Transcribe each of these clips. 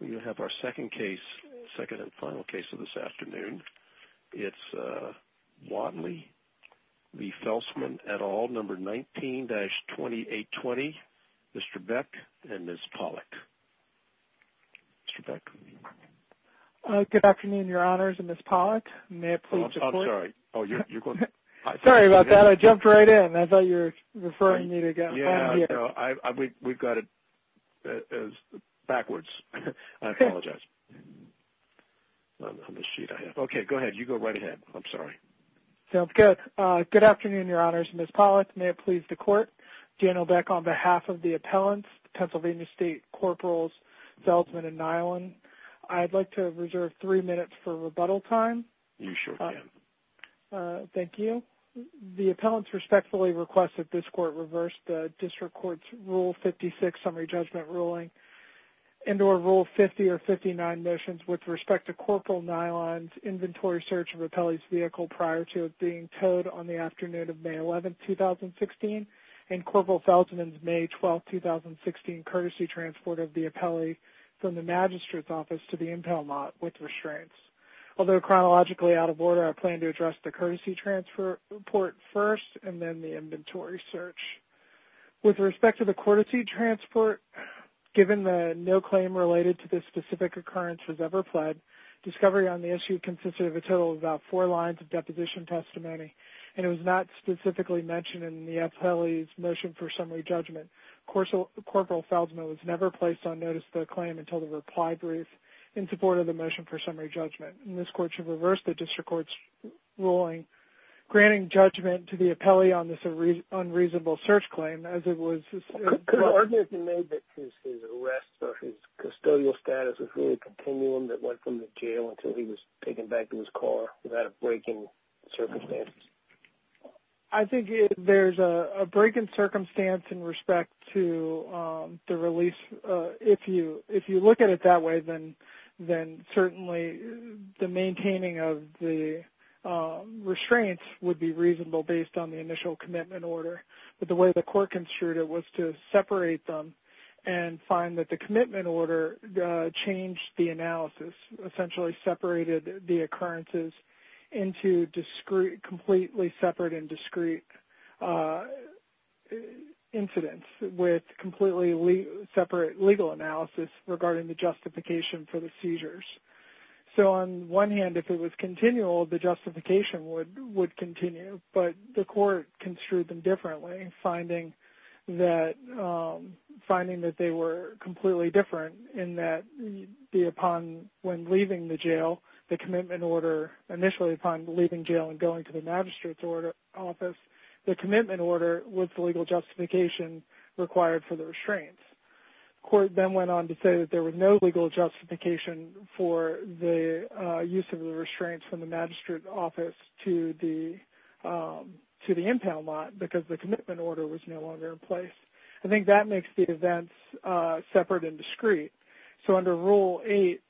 19-2820, Mr. Beck, and Ms. Pollack. Good afternoon, Your Honors, and Ms. Pollack. May I please report? I'm sorry. Sorry about that. I jumped right in. I thought you were referring me to get on here. We've got it backwards. I apologize. Okay, go ahead. You go right ahead. I'm sorry. Sounds good. Good afternoon, Your Honors. Ms. Pollack, may it please the Court. Daniel Beck on behalf of the appellants, Pennsylvania State Corporals Felsman and Nyland. I'd like to reserve three minutes for rebuttal time. You sure can. Thank you. The appellants respectfully request that this Court reverse the District Court's Rule 56 Summary Judgment Ruling and or Rule 50 or 59 motions with respect to Corporal Nyland's inventory search of Appellee's vehicle prior to it being towed on the afternoon of May 11, 2016, and Corporal Felsman's May 12, 2016, courtesy transport of the appellee from the Magistrate's office to the impound lot with restraints. Although chronologically out of order, I plan to address the courtesy transport first and then the inventory search. With respect to the courtesy transport, given that no claim related to this specific occurrence was ever pled, discovery on the issue consisted of a total of about four lines of deposition testimony, and it was not specifically mentioned in the appellee's motion for summary judgment. Corporal Felsman was never placed on notice of the claim until the reply brief in support of the motion for summary judgment. And this Court should reverse the District Court's ruling, granting judgment to the appellee on this unreasonable search claim as it was... Could argue if you may that his arrest or his custodial status was really a continuum that went from the jail until he was taken back to his car without a break in circumstances? I think there's a break in circumstance in respect to the release. If you look at it that way, then certainly the maintaining of the restraints would be reasonable based on the initial commitment order. But the way the Court construed it was to separate them and find that the commitment order changed the analysis, essentially separated the occurrences into completely separate and discrete incidents with completely separate legal analysis regarding the justification for the seizures. So on one hand, if it was continual, the justification would continue. But the Court construed them differently, finding that they were completely different in that upon when leaving the jail, the commitment order initially upon leaving jail and going to the magistrate's office, the commitment order was the legal justification required for the restraints. The Court then went on to say that there was no legal justification for the use of the restraints from the magistrate's office to the impound lot because the commitment order was no longer in place. I think that makes the events separate and discrete. So under Rule 8,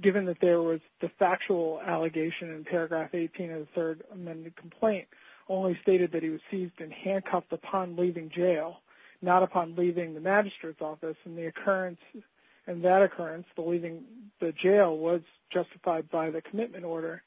given that there was the factual allegation in Paragraph 18 of the Third Amendment complaint only stated that he was seized and handcuffed upon leaving jail, not upon leaving the magistrate's office, and that occurrence, believing the jail, was justified by the commitment order,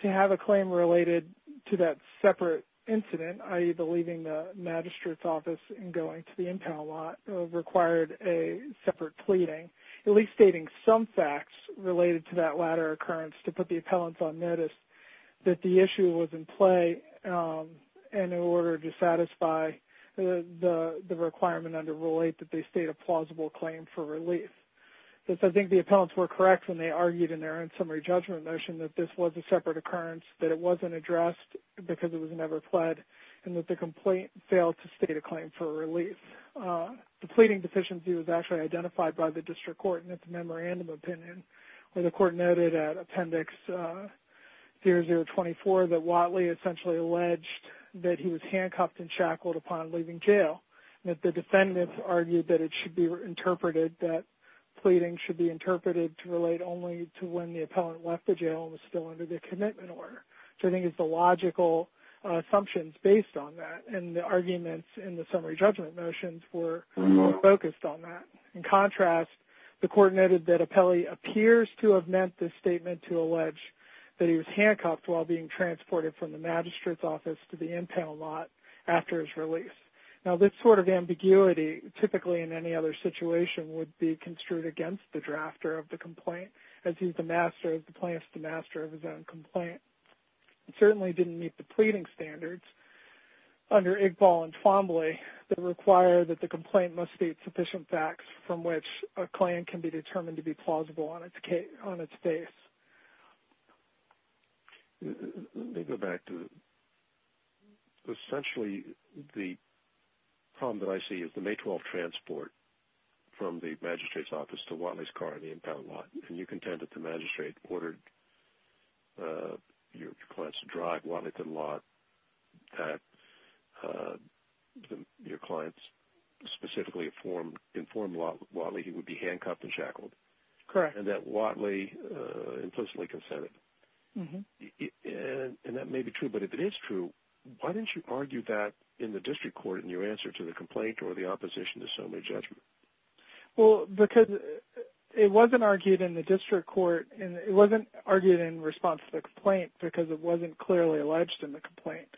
to have a claim related to that separate incident, i.e. the leaving the magistrate's office and going to the impound lot, required a separate pleading, at least stating some facts related to that latter occurrence to put the appellants on notice that the issue was in play in order to satisfy the requirement under Rule 8 that they state a plausible claim for relief. I think the appellants were correct when they argued in their own summary judgment motion that this was a separate occurrence, that it wasn't addressed because it was never pled, and that the complaint failed to state a claim for relief. The pleading deficiency was actually identified by the District Court in its memorandum opinion where the Court noted at Appendix 0024 that Whatley essentially alleged that he was handcuffed and shackled upon leaving jail, and that the defendants argued that it should be interpreted, that pleading should be interpreted to relate only to when the appellant left the jail and was still under the commitment order. So I think it's the logical assumptions based on that, and the arguments in the summary judgment motions were focused on that. In contrast, the Court noted that Appelli appears to have meant this statement to allege that he was handcuffed while being transported from the magistrate's office to the impound lot after his release. Now, this sort of ambiguity, typically in any other situation, would be construed against the drafter of the complaint as he's the master of the plaintiff's master of his own complaint. It certainly didn't meet the pleading standards under Igbal and Twombly that require that the complaint must state sufficient facts from which a claim can be determined to be plausible on its face. Let me go back to essentially the problem that I see is the May 12 transport from the magistrate's office to Whatley's car in the impound lot, and you contend that the magistrate ordered your clients to drive Whatley to the lot, and that your clients specifically informed Whatley he would be handcuffed and shackled, and that Whatley implicitly consented. And that may be true, but if it is true, why didn't you argue that in the district court in your answer to the complaint or the opposition to summary judgment? Well, because it wasn't argued in the district court, and it wasn't argued in response to the complaint because it wasn't clearly alleged in the complaint.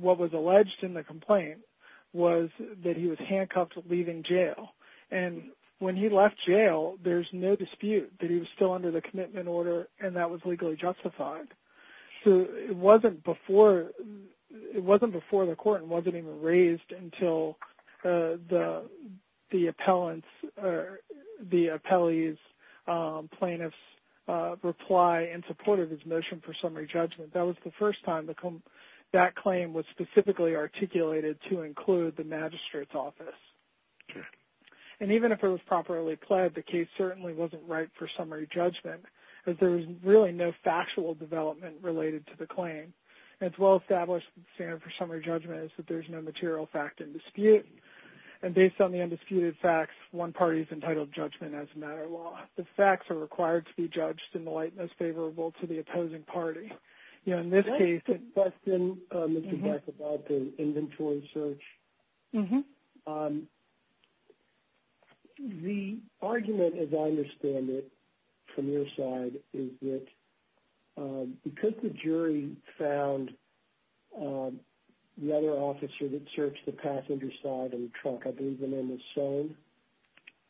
What was alleged in the complaint was that he was handcuffed leaving jail. And when he left jail, there's no dispute that he was still under the commitment order and that was legally justified. So it wasn't before the court and wasn't even raised until the appellee's plaintiff's reply in support of his motion for summary judgment. That was the first time that claim was specifically articulated to include the magistrate's office. And even if it was properly pled, the case certainly wasn't right for summary judgment because there was really no factual development related to the claim. It's well-established that the standard for summary judgment is that there's no material fact in dispute. And based on the undisputed facts, one party is entitled to judgment as a matter of law. The facts are required to be judged in the light most favorable to the opposing party. In this case, it's less than Mr. Becker's inventory search. The argument, as I understand it, from your side, is that because the jury found the other officer that searched the passenger side of the truck, I believe the name was Soane.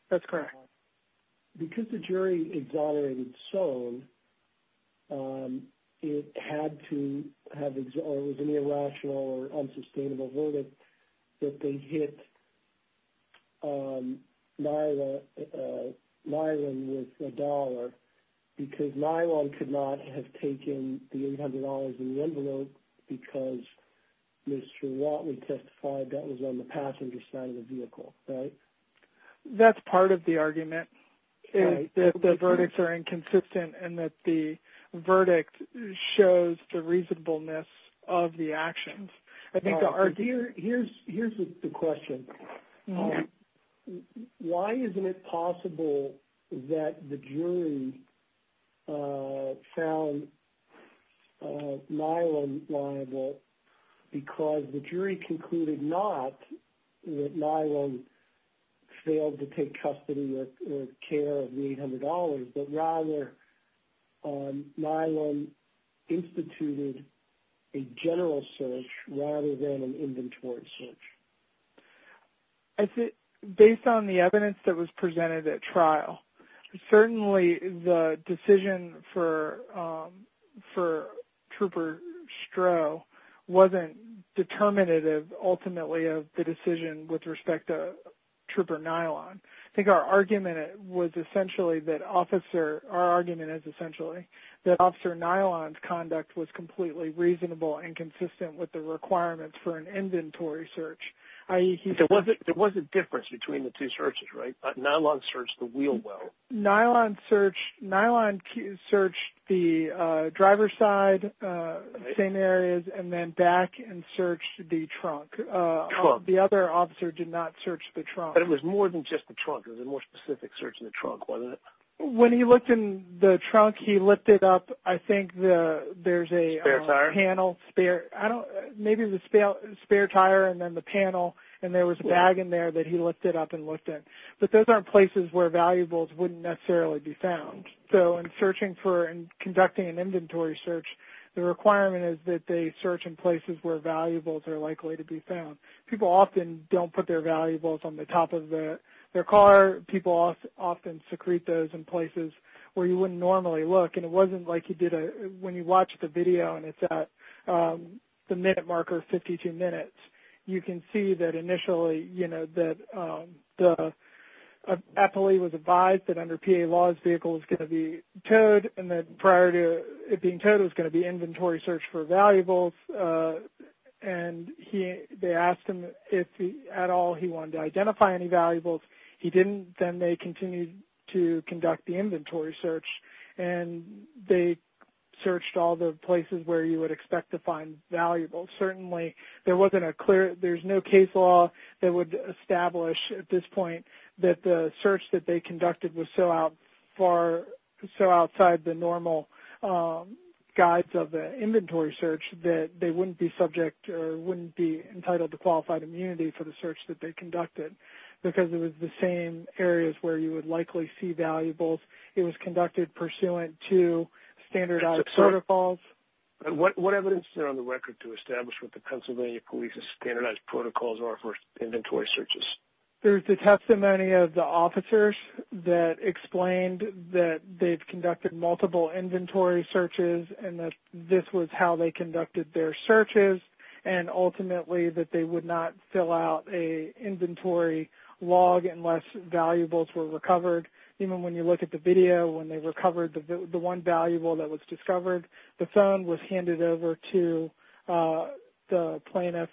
That's correct. Because the jury exonerated Soane, it had to have an irrational or unsustainable verdict that they hit Lila with a dollar because Lila could not have taken the $800 in the envelope because Mr. Watley testified that was on the passenger side of the vehicle, right? That's part of the argument, that the verdicts are inconsistent and that the verdict shows the reasonableness of the actions. Here's the question. Why isn't it possible that the jury found Nyland liable? Because the jury concluded not that Nyland failed to take custody or care of the $800, but rather Nyland instituted a general search rather than an inventory search. Based on the evidence that was presented at trial, certainly the decision for Trooper Stroh wasn't determinative, ultimately, of the decision with respect to Trooper Nyland. I think our argument is essentially that Officer Nyland's conduct was completely reasonable and consistent with the requirements for an inventory search. There was a difference between the two searches, right? Nyland searched the wheel well. Nyland searched the driver's side, same areas, and then back and searched the trunk. The other officer did not search the trunk. But it was more than just the trunk. It was a more specific search in the trunk, wasn't it? When he looked in the trunk, he looked it up. I think there's a spare tire and then the panel, and there was a bag in there that he looked it up and looked in. But those aren't places where valuables wouldn't necessarily be found. So in conducting an inventory search, the requirement is that they search in places where valuables are likely to be found. People often don't put their valuables on the top of their car. People often secrete those in places where you wouldn't normally look. And it wasn't like you did when you watched the video, and it's at the minute marker, 52 minutes. You can see that initially, you know, that the appellee was advised that under PA laws the vehicle was going to be towed and that prior to it being towed it was going to be inventory searched for valuables. And they asked him if at all he wanted to identify any valuables. He didn't. Then they continued to conduct the inventory search, and they searched all the places where you would expect to find valuables. Certainly there's no case law that would establish at this point that the search that they conducted was so outside the normal guides of the inventory search that they wouldn't be subject or wouldn't be entitled to qualified immunity for the search that they conducted because it was the same areas where you would likely see valuables. It was conducted pursuant to standardized protocols. What evidence is there on the record to establish what the Pennsylvania Police's standardized protocols are for inventory searches? There's the testimony of the officers that explained that they've conducted multiple inventory searches and that this was how they conducted their searches and ultimately that they would not fill out an inventory log unless valuables were recovered. Even when you look at the video, when they recovered the one valuable that was discovered, the phone was handed over to the plaintiff's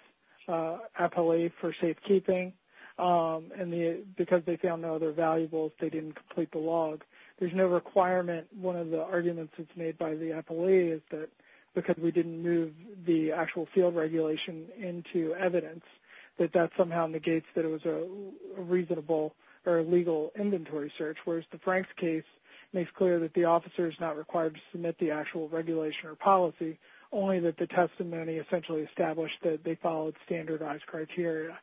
appellate for safekeeping, and because they found no other valuables, they didn't complete the log. There's no requirement. One of the arguments that's made by the appellate is that because we didn't move the actual field regulation into evidence, that that somehow negates that it was a reasonable or legal inventory search, whereas the Franks case makes clear that the officer is not required to submit the actual regulation or policy, only that the testimony essentially established that they followed standardized criteria.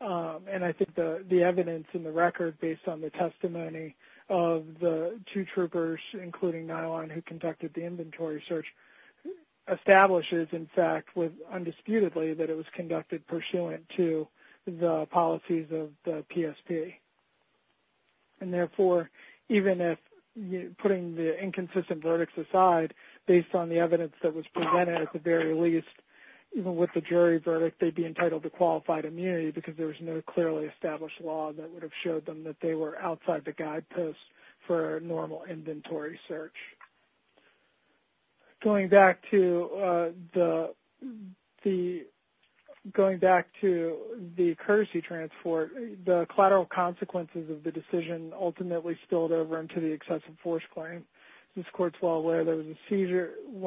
And I think the evidence in the record based on the testimony of the two troopers, including Nylon, who conducted the inventory search, establishes, in fact, undisputedly that it was conducted pursuant to the policies of the PSP. And therefore, even if putting the inconsistent verdicts aside, based on the evidence that was presented, at the very least, even with the jury verdict, they'd be entitled to qualified immunity because there was no clearly established law that would have showed them that they were outside the guideposts for a normal inventory search. Going back to the courtesy transport, the collateral consequences of the decision ultimately spilled over into the excessive force claim. As this court is well aware, when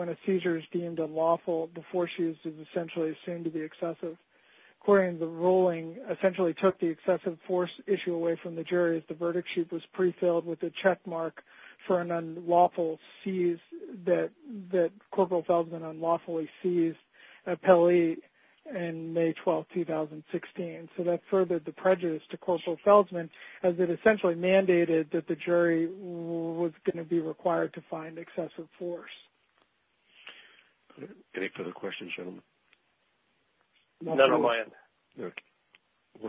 a seizure is deemed unlawful, the force used is essentially assumed to be excessive. According to the ruling, essentially took the excessive force issue away from the jury as the verdict sheet was prefilled with a checkmark for an unlawful seize that Corporal Feldman unlawfully seized at Pele in May 12, 2016. So that furthered the prejudice to Corporal Feldman as it essentially mandated that the jury was going to be required to find excessive force. Any further questions, gentlemen? None on my end.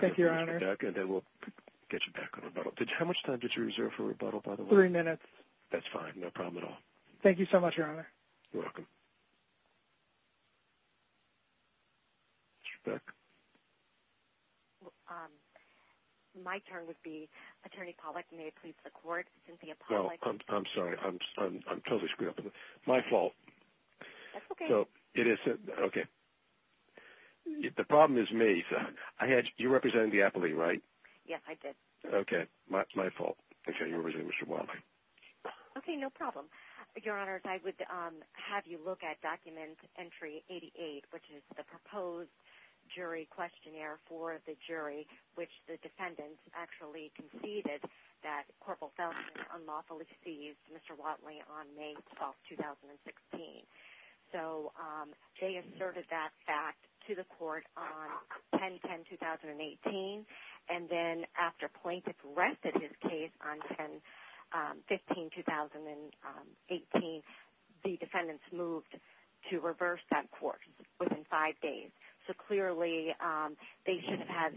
Thank you, Your Honor. We'll get you back on rebuttal. How much time did you reserve for rebuttal, by the way? Three minutes. That's fine. No problem at all. Thank you so much, Your Honor. You're welcome. Mr. Beck? My turn would be Attorney Pollack. May it please the Court, Cynthia Pollack. I'm sorry. I'm totally screwed up. My fault. That's okay. It is. Okay. The problem is me. You represented the appellee, right? Yes, I did. Okay. My fault. Okay. You represented Mr. Watley. Okay. No problem. Your Honor, I would have you look at Document Entry 88, which is the proposed jury questionnaire for the jury, which the defendants actually conceded that Corporal Feldman unlawfully seized Mr. Watley on May 12, 2016. So they asserted that fact to the Court on 10-10-2018, and then after plaintiffs rested his case on 10-15-2018, the defendants moved to reverse that court within five days. So clearly they should have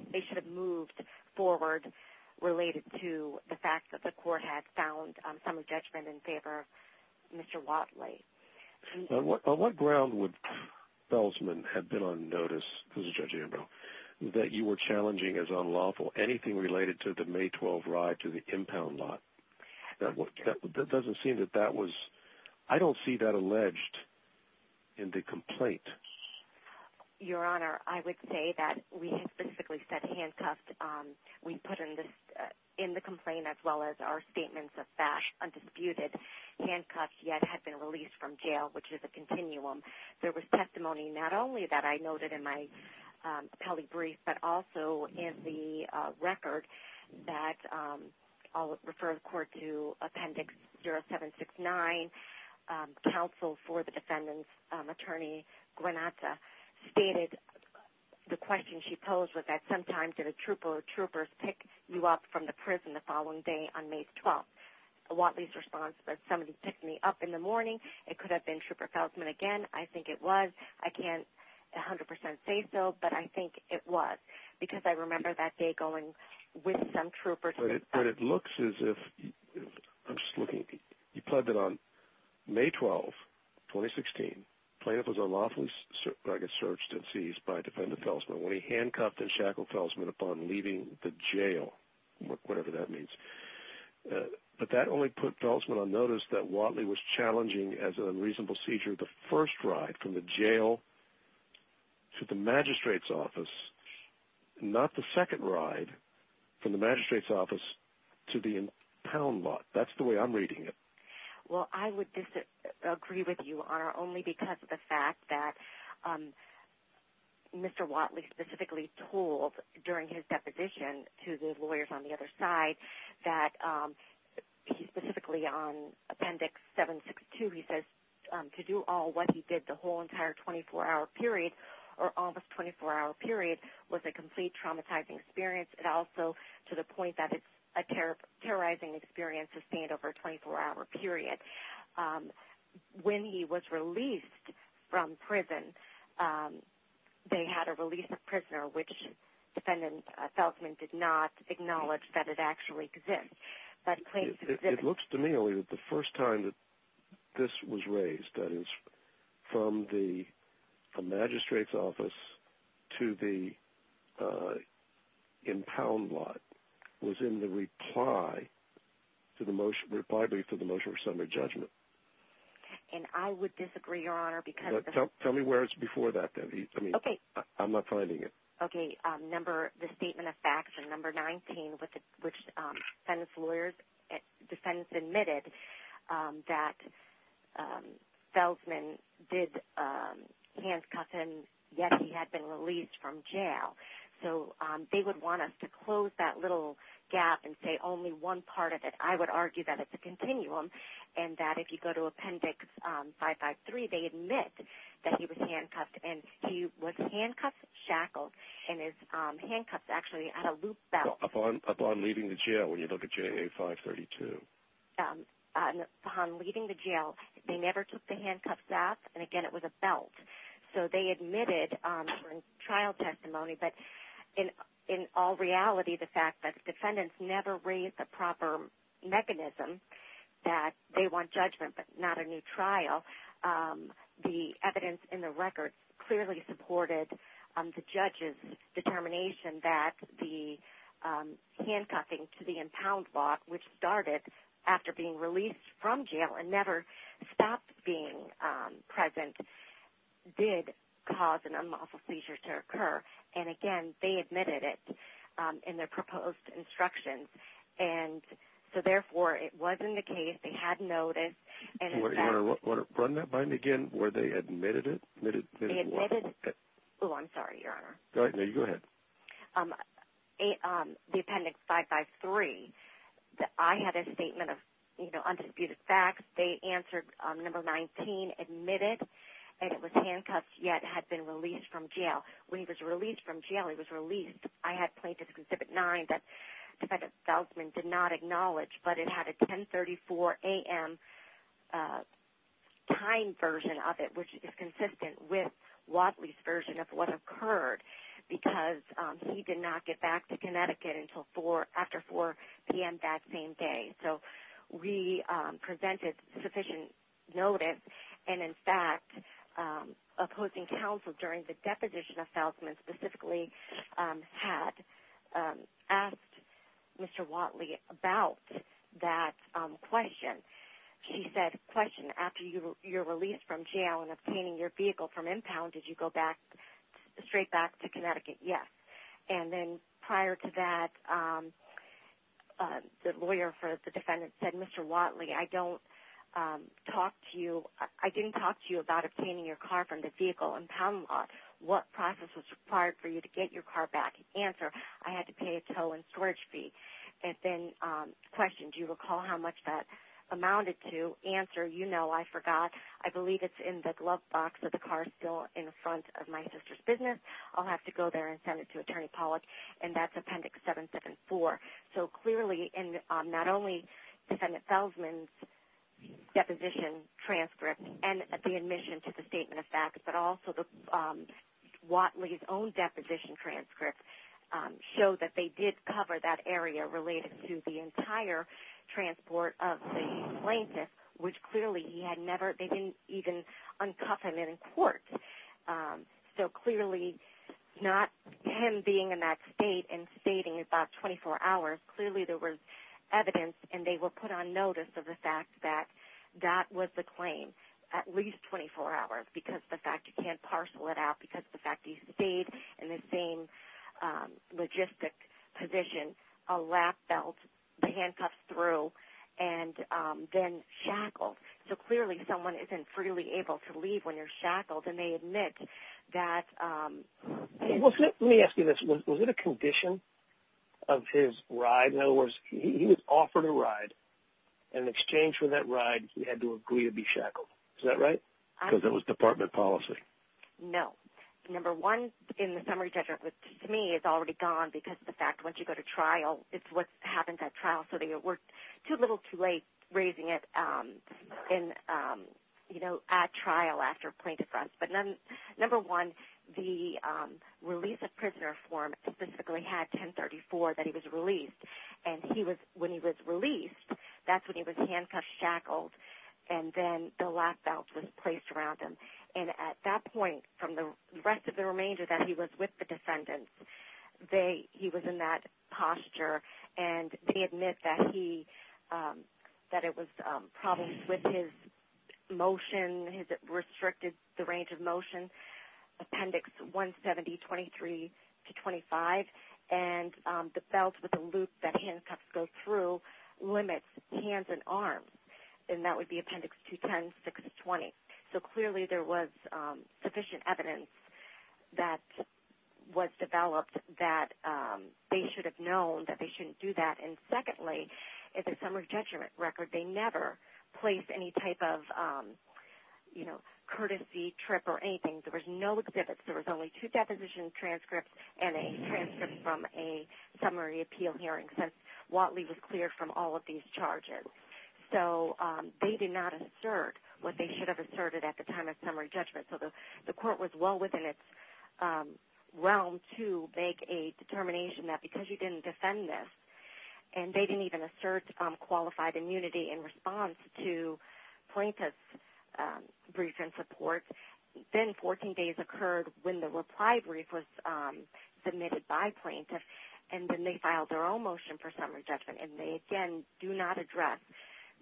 moved forward related to the fact that the Court had found some judgment in favor of Mr. Watley. On what ground would Feldman have been on notice, Judge Ambrose, that you were challenging as unlawful anything related to the May 12 ride to the impound lot? That doesn't seem that that was – I don't see that alleged in the complaint. Your Honor, I would say that we specifically said handcuffed. We put in the complaint, as well as our statements of facts, undisputed handcuffs yet had been released from jail, which is a continuum. There was testimony not only that I noted in my appellee brief, but also in the record that I'll refer the Court to Appendix 0769, counsel for the defendants, Attorney Granata, stated the question she posed was that sometimes did a trooper or troopers pick you up from the prison the following day on May 12. Watley's response was somebody picked me up in the morning. It could have been Trooper Feldman again. I think it was. I can't 100% say so, but I think it was because I remember that day going with some troopers. But it looks as if – I'm just looking – he pled that on May 12, 2016, plaintiff was unlawfully searched and seized by a defendant, Feldman, when he handcuffed and shackled Feldman upon leaving the jail, whatever that means. But that only put Feldman on notice that Watley was challenging as an unreasonable seizure the first ride from the jail to the magistrate's office, not the second ride from the magistrate's office to the impound lot. That's the way I'm reading it. Well, I would disagree with you, Honor, only because of the fact that Mr. Watley specifically told during his deposition to the lawyers on the other side that he specifically on Appendix 762, he says to do all what he did the whole entire 24-hour period or almost 24-hour period was a complete traumatizing experience. It also, to the point that it's a terrorizing experience, sustained over a 24-hour period. When he was released from prison, they had a release of prisoner, which defendant Feldman did not acknowledge that it actually exists. It looks to me only that the first time that this was raised, that is from the magistrate's office to the impound lot, was in the reply to the motion for summary judgment. And I would disagree, Your Honor, because... Tell me where it's before that, then. I'm not finding it. Okay, the Statement of Facts and Number 19, which defendant admitted that Feldman did handcuff him, yet he had been released from jail. So they would want us to close that little gap and say only one part of it. I would argue that it's a continuum, and that if you go to Appendix 553, they admit that he was handcuffed, and he was handcuffed, shackled, and his handcuffs actually had a loop belt. Upon leaving the jail, when you look at JA 532. Upon leaving the jail, they never took the handcuffs off, and again, it was a belt. So they admitted during trial testimony, but in all reality, the fact that defendants never raised the proper mechanism that they want judgment but not a new trial, the evidence in the records clearly supported the judge's determination that the handcuffing to the impound lot, which started after being released from jail and never stopped being present, did cause an unlawful seizure to occur, and again, they admitted it in their proposed instructions, and so therefore, it wasn't the case. They had notice, and in fact... You want to run that by me again, where they admitted it? They admitted... Oh, I'm sorry, Your Honor. Go ahead. The appendix 553, I had a statement of, you know, undisputed facts. They answered number 19, admitted, and it was handcuffed, yet had been released from jail. When he was released from jail, he was released. I had plaintiff's concipit 9 that defendant Feldman did not acknowledge, but it had a 1034 a.m. time version of it, which is consistent with Watley's version of what occurred because he did not get back to Connecticut until after 4 p.m. that same day. So we presented sufficient notice, and in fact, opposing counsel during the deposition of Feldman specifically had asked Mr. Watley about that question. She said, question, after you're released from jail and obtaining your vehicle from impound, did you go straight back to Connecticut? Yes. And then prior to that, the lawyer for the defendant said, Mr. Watley, I didn't talk to you about obtaining your car from the vehicle impound lot. What process was required for you to get your car back? Answer, I had to pay a tow and storage fee. And then question, do you recall how much that amounted to? Answer, you know, I forgot. I believe it's in the glove box of the car still in front of my sister's business. I'll have to go there and send it to Attorney Pollack. And that's Appendix 774. So clearly, not only defendant Feldman's deposition transcript and the admission to the statement of fact, but also Watley's own deposition transcript showed that they did cover that area related to the entire transport of the plaintiff, which clearly he had never been even uncuffed in court. So clearly, not him being in that state and stating about 24 hours, clearly there was evidence and they were put on notice of the fact that that was the claim, at least 24 hours, because of the fact you can't parcel it out, because of the fact that he stayed in the same logistic position, a lap belt, handcuffs through, and then shackled. So clearly, someone isn't freely able to leave when you're shackled, and they admit that. Let me ask you this. Was it a condition of his ride? In other words, he was offered a ride, and in exchange for that ride, he had to agree to be shackled. Is that right? Because it was department policy. No. Number one, in the summary judgment, to me, it's already gone because of the fact once you go to trial, it's what happens at trial. So they worked too little too late raising it at trial after plaintiff's arrest. Number one, the release of prisoner form specifically had 1034 that he was released, and when he was released, that's when he was handcuffed, shackled, and then the lap belt was placed around him. And at that point, from the rest of the remainder that he was with the defendants, he was in that posture, and they admit that it was problems with his motion, his restricted range of motion, Appendix 170, 23 to 25, and the belt with the loop that handcuffs go through limits hands and arms, and that would be Appendix 210, 620. So clearly there was sufficient evidence that was developed that they should have known that they shouldn't do that. And secondly, in the summary judgment record, they never placed any type of, you know, courtesy trip or anything. There was no exhibits. There was only two deposition transcripts and a transcript from a summary appeal hearing since Whatley was cleared from all of these charges. So they did not assert what they should have asserted at the time of summary judgment. So the court was well within its realm to make a determination that because you didn't defend this, and they didn't even assert qualified immunity in response to plaintiff's brief and support, then 14 days occurred when the reply brief was submitted by plaintiff, and then they filed their own motion for summary judgment. And they, again, do not address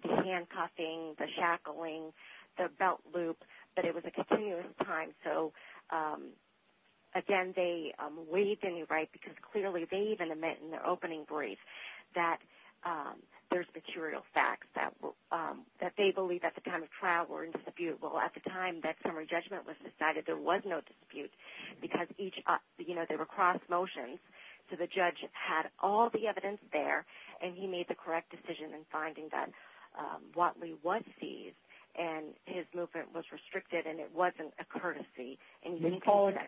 the handcuffing, the shackling, the belt loop, but it was a continuous time. So, again, they waived any right because clearly they even admit in their opening brief that there's material facts that they believe at the time of trial were indisputable. At the time that summary judgment was decided, there was no dispute because each, you know, they were cross motions, so the judge had all the evidence there, and he made the correct decision in finding that Whatley was seized, and his movement was restricted and it wasn't a courtesy. Ms. Pollard,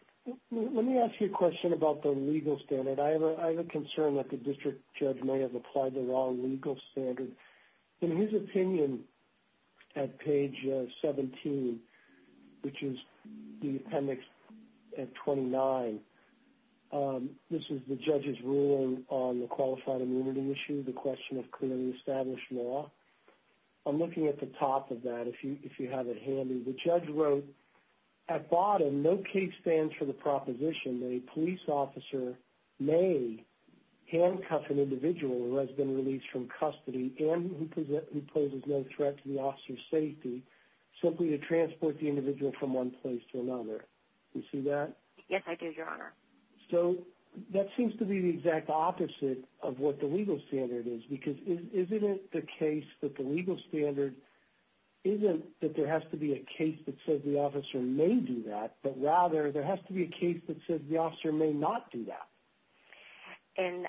let me ask you a question about the legal standard. I have a concern that the district judge may have applied the wrong legal standard. In his opinion at page 17, which is the appendix at 29, this is the judge's ruling on the qualified immunity issue, the question of clearly established law. I'm looking at the top of that if you have it handy. The judge wrote, at bottom, no case stands for the proposition that a police officer may handcuff an individual who has been released from custody and who poses no threat to the officer's safety simply to transport the individual from one place to another. Do you see that? Yes, I do, Your Honor. So that seems to be the exact opposite of what the legal standard is because isn't it the case that the legal standard isn't that there has to be a case that says the officer may do that, but rather there has to be a case that says the officer may not do that? And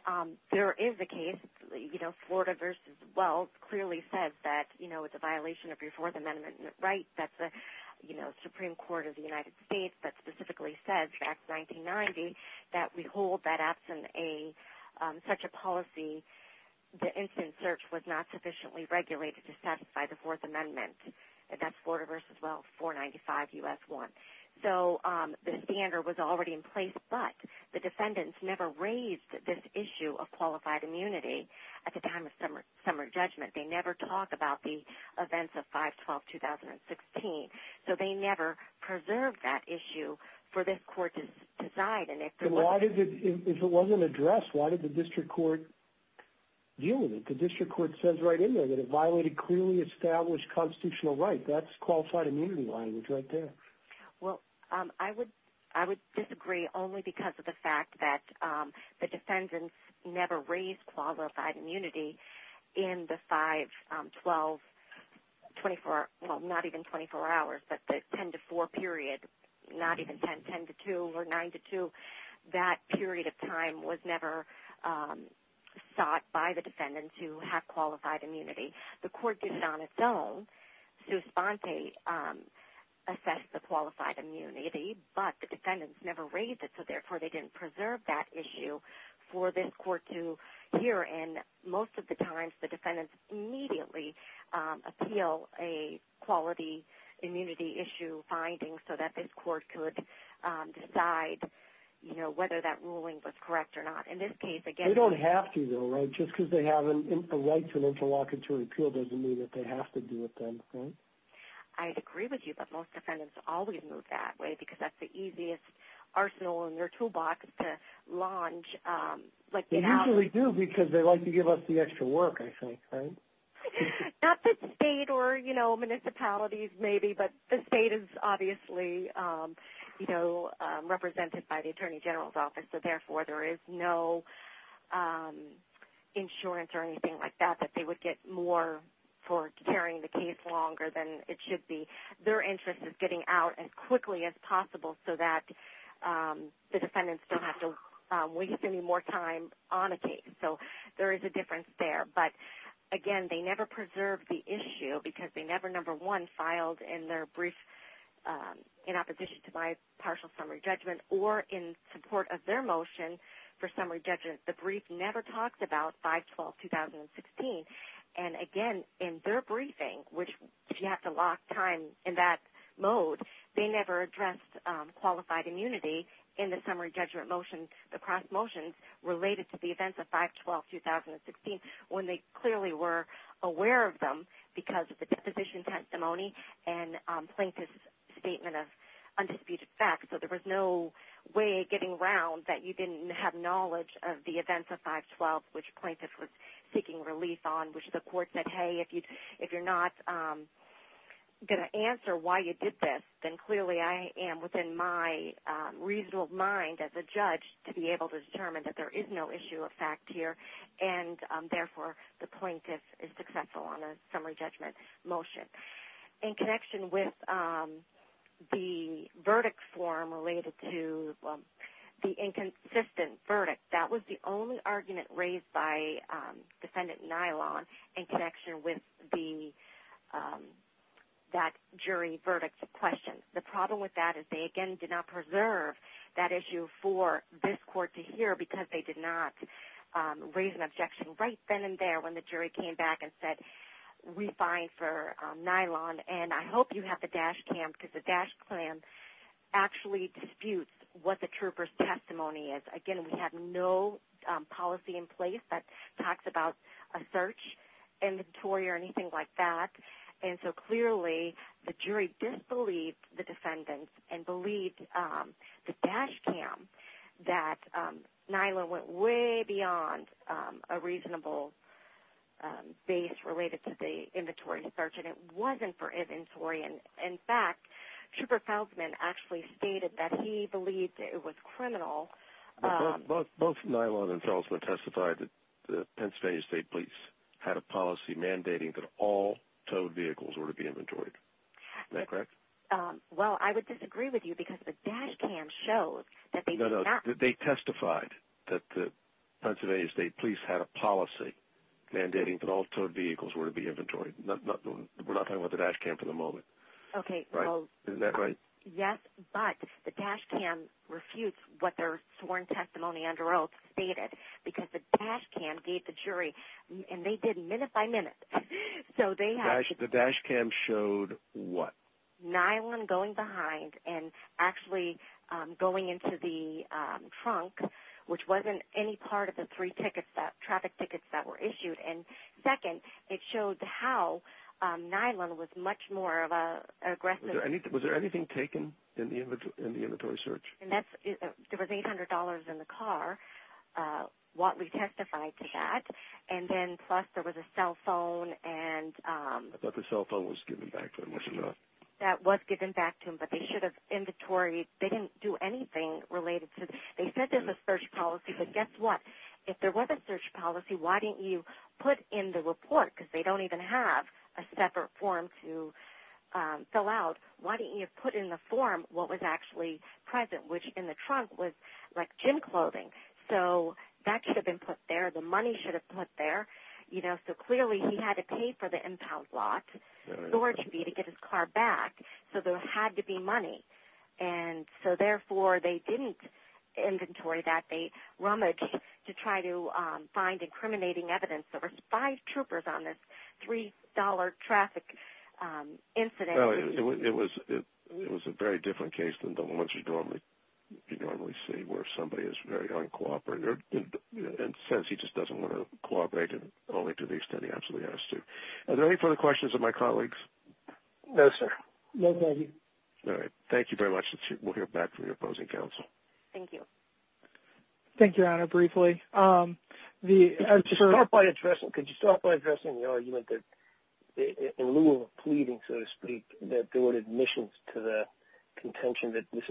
there is a case, you know, Florida v. Wells clearly says that, you know, it's a violation of your Fourth Amendment right. That's the, you know, Supreme Court of the United States that specifically says, back in 1990, that we hold that absent such a policy the instant search was not sufficiently regulated to satisfy the Fourth Amendment. That's Florida v. Wells, 495 U.S. 1. So the standard was already in place, but the defendants never raised this issue of qualified immunity at the time of summary judgment. They never talked about the events of 5-12-2016. So they never preserved that issue for this court to decide. If it wasn't addressed, why did the district court deal with it? The district court says right in there that it violated clearly established constitutional rights. That's qualified immunity language right there. Well, I would disagree only because of the fact that the defendants never raised qualified immunity in the 5-12-24, well, not even 24 hours, but the 10-4 period, not even 10-10-2 or 9-2. That period of time was never sought by the defendants who have qualified immunity. The court did it on its own. Su sponte assessed the qualified immunity, but the defendants never raised it, so therefore they didn't preserve that issue for this court to hear, and most of the times the defendants immediately appeal a quality immunity issue finding so that this court could decide whether that ruling was correct or not. They don't have to though, right? Just because they have a right to an interlocutory appeal doesn't mean that they have to do it then, right? I agree with you, but most defendants always move that way because that's the easiest arsenal in their toolbox to launch. They usually do because they like to give us the extra work, I think, right? Not the state or municipalities maybe, but the state is obviously represented by the Attorney General's Office, so therefore there is no insurance or anything like that that they would get more for carrying the case longer than it should be. Their interest is getting out as quickly as possible so that the defendants don't have to waste any more time on a case. So there is a difference there, but again, they never preserve the issue because they never, number one, filed in their brief in opposition to my partial summary judgment or in support of their motion for summary judgment. The brief never talks about 5-12-2016, and again, in their briefing, which you have to lock time in that mode, they never addressed qualified immunity in the summary judgment motion, the cross motions related to the events of 5-12-2016, when they clearly were aware of them because of the deposition testimony and plaintiff's statement of undisputed facts. So there was no way getting around that you didn't have knowledge of the events of 5-12, which plaintiffs were seeking relief on, which the court said, hey, if you're not going to answer why you did this, then clearly I am within my reasonable mind as a judge to be able to determine that there is no issue of fact here, and therefore the plaintiff is successful on a summary judgment motion. In connection with the verdict form related to the inconsistent verdict, that was the only argument raised by Defendant Nylon in connection with that jury verdict question. The problem with that is they, again, did not preserve that issue for this court to hear because they did not raise an objection right then and there when the jury came back and said we're fine for Nylon, and I hope you have the dash cam because the dash cam actually disputes what the trooper's testimony is. Again, we have no policy in place that talks about a search inventory or anything like that. And so clearly the jury disbelieved the defendants and believed the dash cam that Nylon went way beyond a reasonable base related to the inventory search, and it wasn't for inventory. In fact, Trooper Felsman actually stated that he believed it was criminal. Both Nylon and Felsman testified that the Pennsylvania State Police had a policy mandating that all towed vehicles were to be inventoried. Is that correct? Well, I would disagree with you because the dash cam shows that they did not. No, no, they testified that the Pennsylvania State Police had a policy mandating that all towed vehicles were to be inventoried. We're not talking about the dash cam for the moment. Okay. Isn't that right? Yes, but the dash cam refutes what their sworn testimony under oath stated because the dash cam gave the jury, and they did minute by minute. The dash cam showed what? Nylon going behind and actually going into the trunk, which wasn't any part of the three traffic tickets that were issued. And second, it showed how Nylon was much more of an aggressive vehicle. Was there anything taken in the inventory search? There was $800 in the car, what we testified to that, and then plus there was a cell phone. I thought the cell phone was given back to him, wasn't it? That was given back to him, but they should have inventory. They didn't do anything related to it. They said there was a search policy, but guess what? If there was a search policy, why didn't you put in the report? Because they don't even have a separate form to fill out. Why didn't you put in the form what was actually present, which in the trunk was like gym clothing. So that should have been put there. The money should have been put there. So clearly he had to pay for the impound lot, so it should be to get his car back, so there had to be money. And so therefore they didn't inventory that. They rummaged to try to find incriminating evidence. There were five troopers on this $3 traffic incident. It was a very different case than the ones you normally see where somebody is very uncooperative and says he just doesn't want to cooperate, only to the extent he absolutely has to. Are there any further questions of my colleagues? No, sir. No, thank you. All right. Thank you very much. We'll hear back from your opposing counsel. Thank you. Thank you, Your Honor, briefly. Could you start by addressing the argument that in lieu of pleading, so to speak, that there were admissions to the contention that this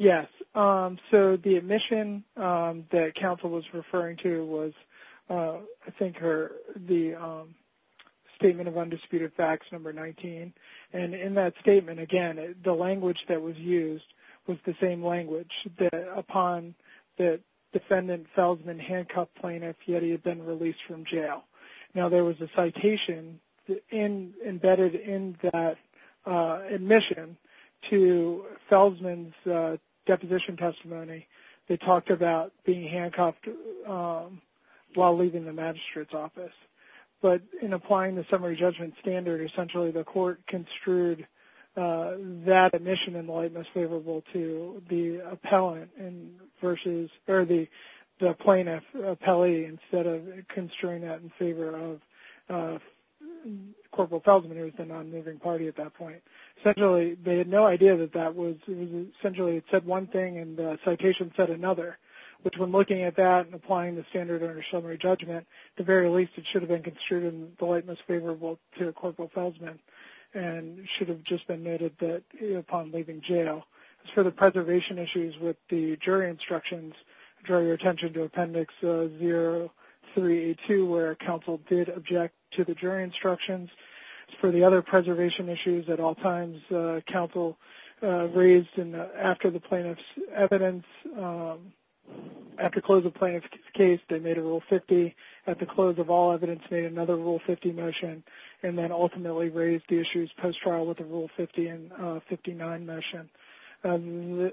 Yes. So the admission that counsel was referring to was, I think, the statement of undisputed facts, number 19. And in that statement, again, the language that was used was the same language upon the defendant, Feldman, handcuffed plaintiff, yet he had been released from jail. Now there was a citation embedded in that admission to Feldman's deposition testimony that talked about being handcuffed while leaving the magistrate's office. But in applying the summary judgment standard, essentially the court construed that admission in the light most favorable to the plaintiff, appellee, instead of construing that in favor of Corporal Feldman, who was the non-moving party at that point. Essentially they had no idea that that was essentially it said one thing and the citation said another, which when looking at that and applying the standard under summary judgment, at the very least it should have been construed in the light most favorable to Corporal Feldman and should have just been noted that upon leaving jail. As for the preservation issues with the jury instructions, I draw your attention to Appendix 0382, where counsel did object to the jury instructions. As for the other preservation issues at all times, counsel raised after the plaintiff's evidence, at the close of the plaintiff's case they made a Rule 50, at the close of all evidence made another Rule 50 motion, and then ultimately raised the issues post-trial with a Rule 50 and 59 motion.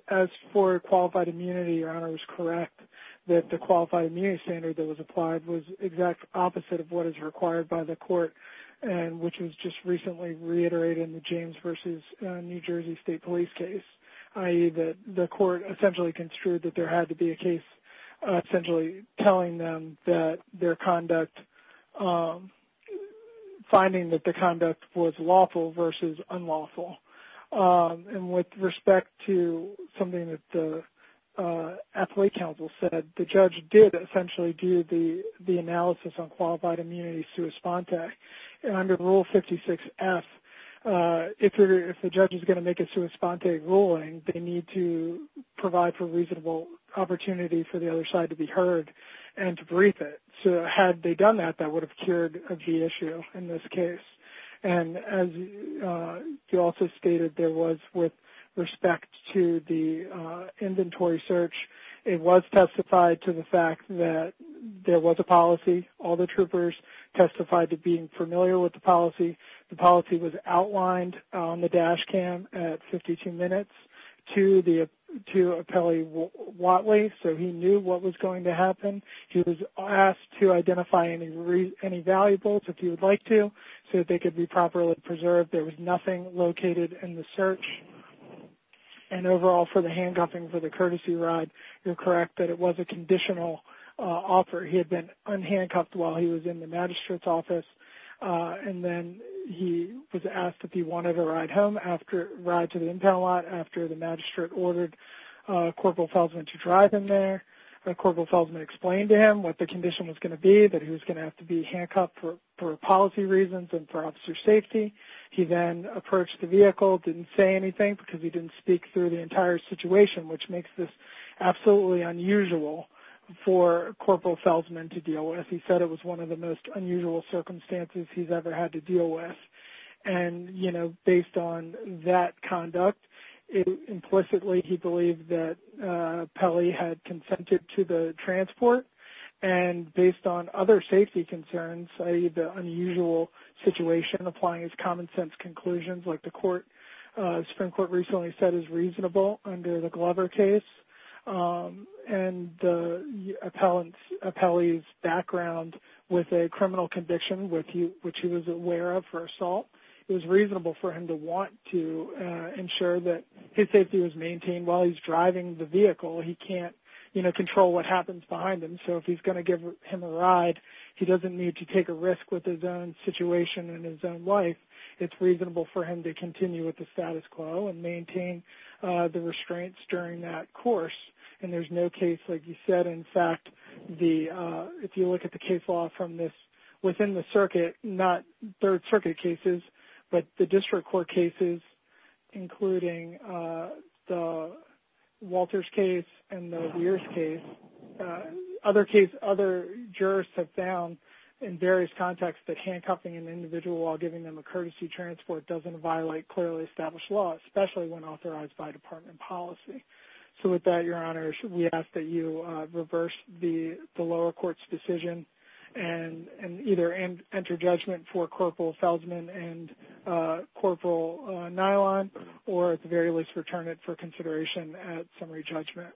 As for qualified immunity, Your Honor was correct that the qualified immunity standard that was applied was the exact opposite of what is required by the court, which was just recently reiterated in the James v. New Jersey State Police case, i.e. that the court essentially construed that there had to be a case essentially telling them that their conduct, finding that the conduct was lawful versus unlawful. With respect to something that the athlete counsel said, the judge did essentially do the analysis on qualified immunity sui sponte, and under Rule 56F, if the judge is going to make a sui sponte ruling, they need to provide for reasonable opportunity for the other side to be heard and to brief it. Had they done that, that would have cured a G issue in this case. As he also stated, with respect to the inventory search, it was testified to the fact that there was a policy. All the troopers testified to being familiar with the policy. The policy was outlined on the dash cam at 52 minutes to Apelli Watley, so he knew what was going to happen. He was asked to identify any valuables, if he would like to, so that they could be properly preserved. There was nothing located in the search. And overall, for the handcuffing for the courtesy ride, you're correct that it was a conditional offer. He had been unhandcuffed while he was in the magistrate's office, and then he was asked if he wanted to ride to the impound lot after the magistrate ordered Corporal Felsman to drive him there. Corporal Felsman explained to him what the condition was going to be, that he was going to have to be handcuffed for policy reasons and for officer safety. He then approached the vehicle, didn't say anything because he didn't speak through the entire situation, which makes this absolutely unusual for Corporal Felsman to deal with. He said it was one of the most unusual circumstances he's ever had to deal with. And, you know, based on that conduct, implicitly he believed that Apelli had consented to the transport, and based on other safety concerns, the unusual situation applying his common sense conclusions like the Supreme Court recently said is reasonable under the Glover case, and Apelli's background with a criminal conviction, which he was aware of for assault, it was reasonable for him to want to ensure that his safety was maintained while he's driving the vehicle. He can't, you know, control what happens behind him, so if he's going to give him a ride, he doesn't need to take a risk with his own situation and his own life. It's reasonable for him to continue with the status quo and maintain the restraints during that course. And there's no case, like you said, in fact, if you look at the case law from this within the circuit, not third circuit cases, but the district court cases, including Walter's case and the Weir's case, other jurists have found in various contexts that handcuffing an individual while giving them a courtesy transport doesn't violate clearly established law, especially when authorized by department policy. So with that, Your Honors, we ask that you reverse the lower court's decision and either enter judgment for Corporal Feldman and Corporal Nylon, or at the very least return it for consideration at summary judgment.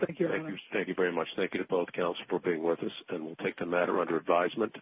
Thank you, Your Honors. Thank you very much. Thank you to both counsels for being with us, and we'll take the matter under advisement.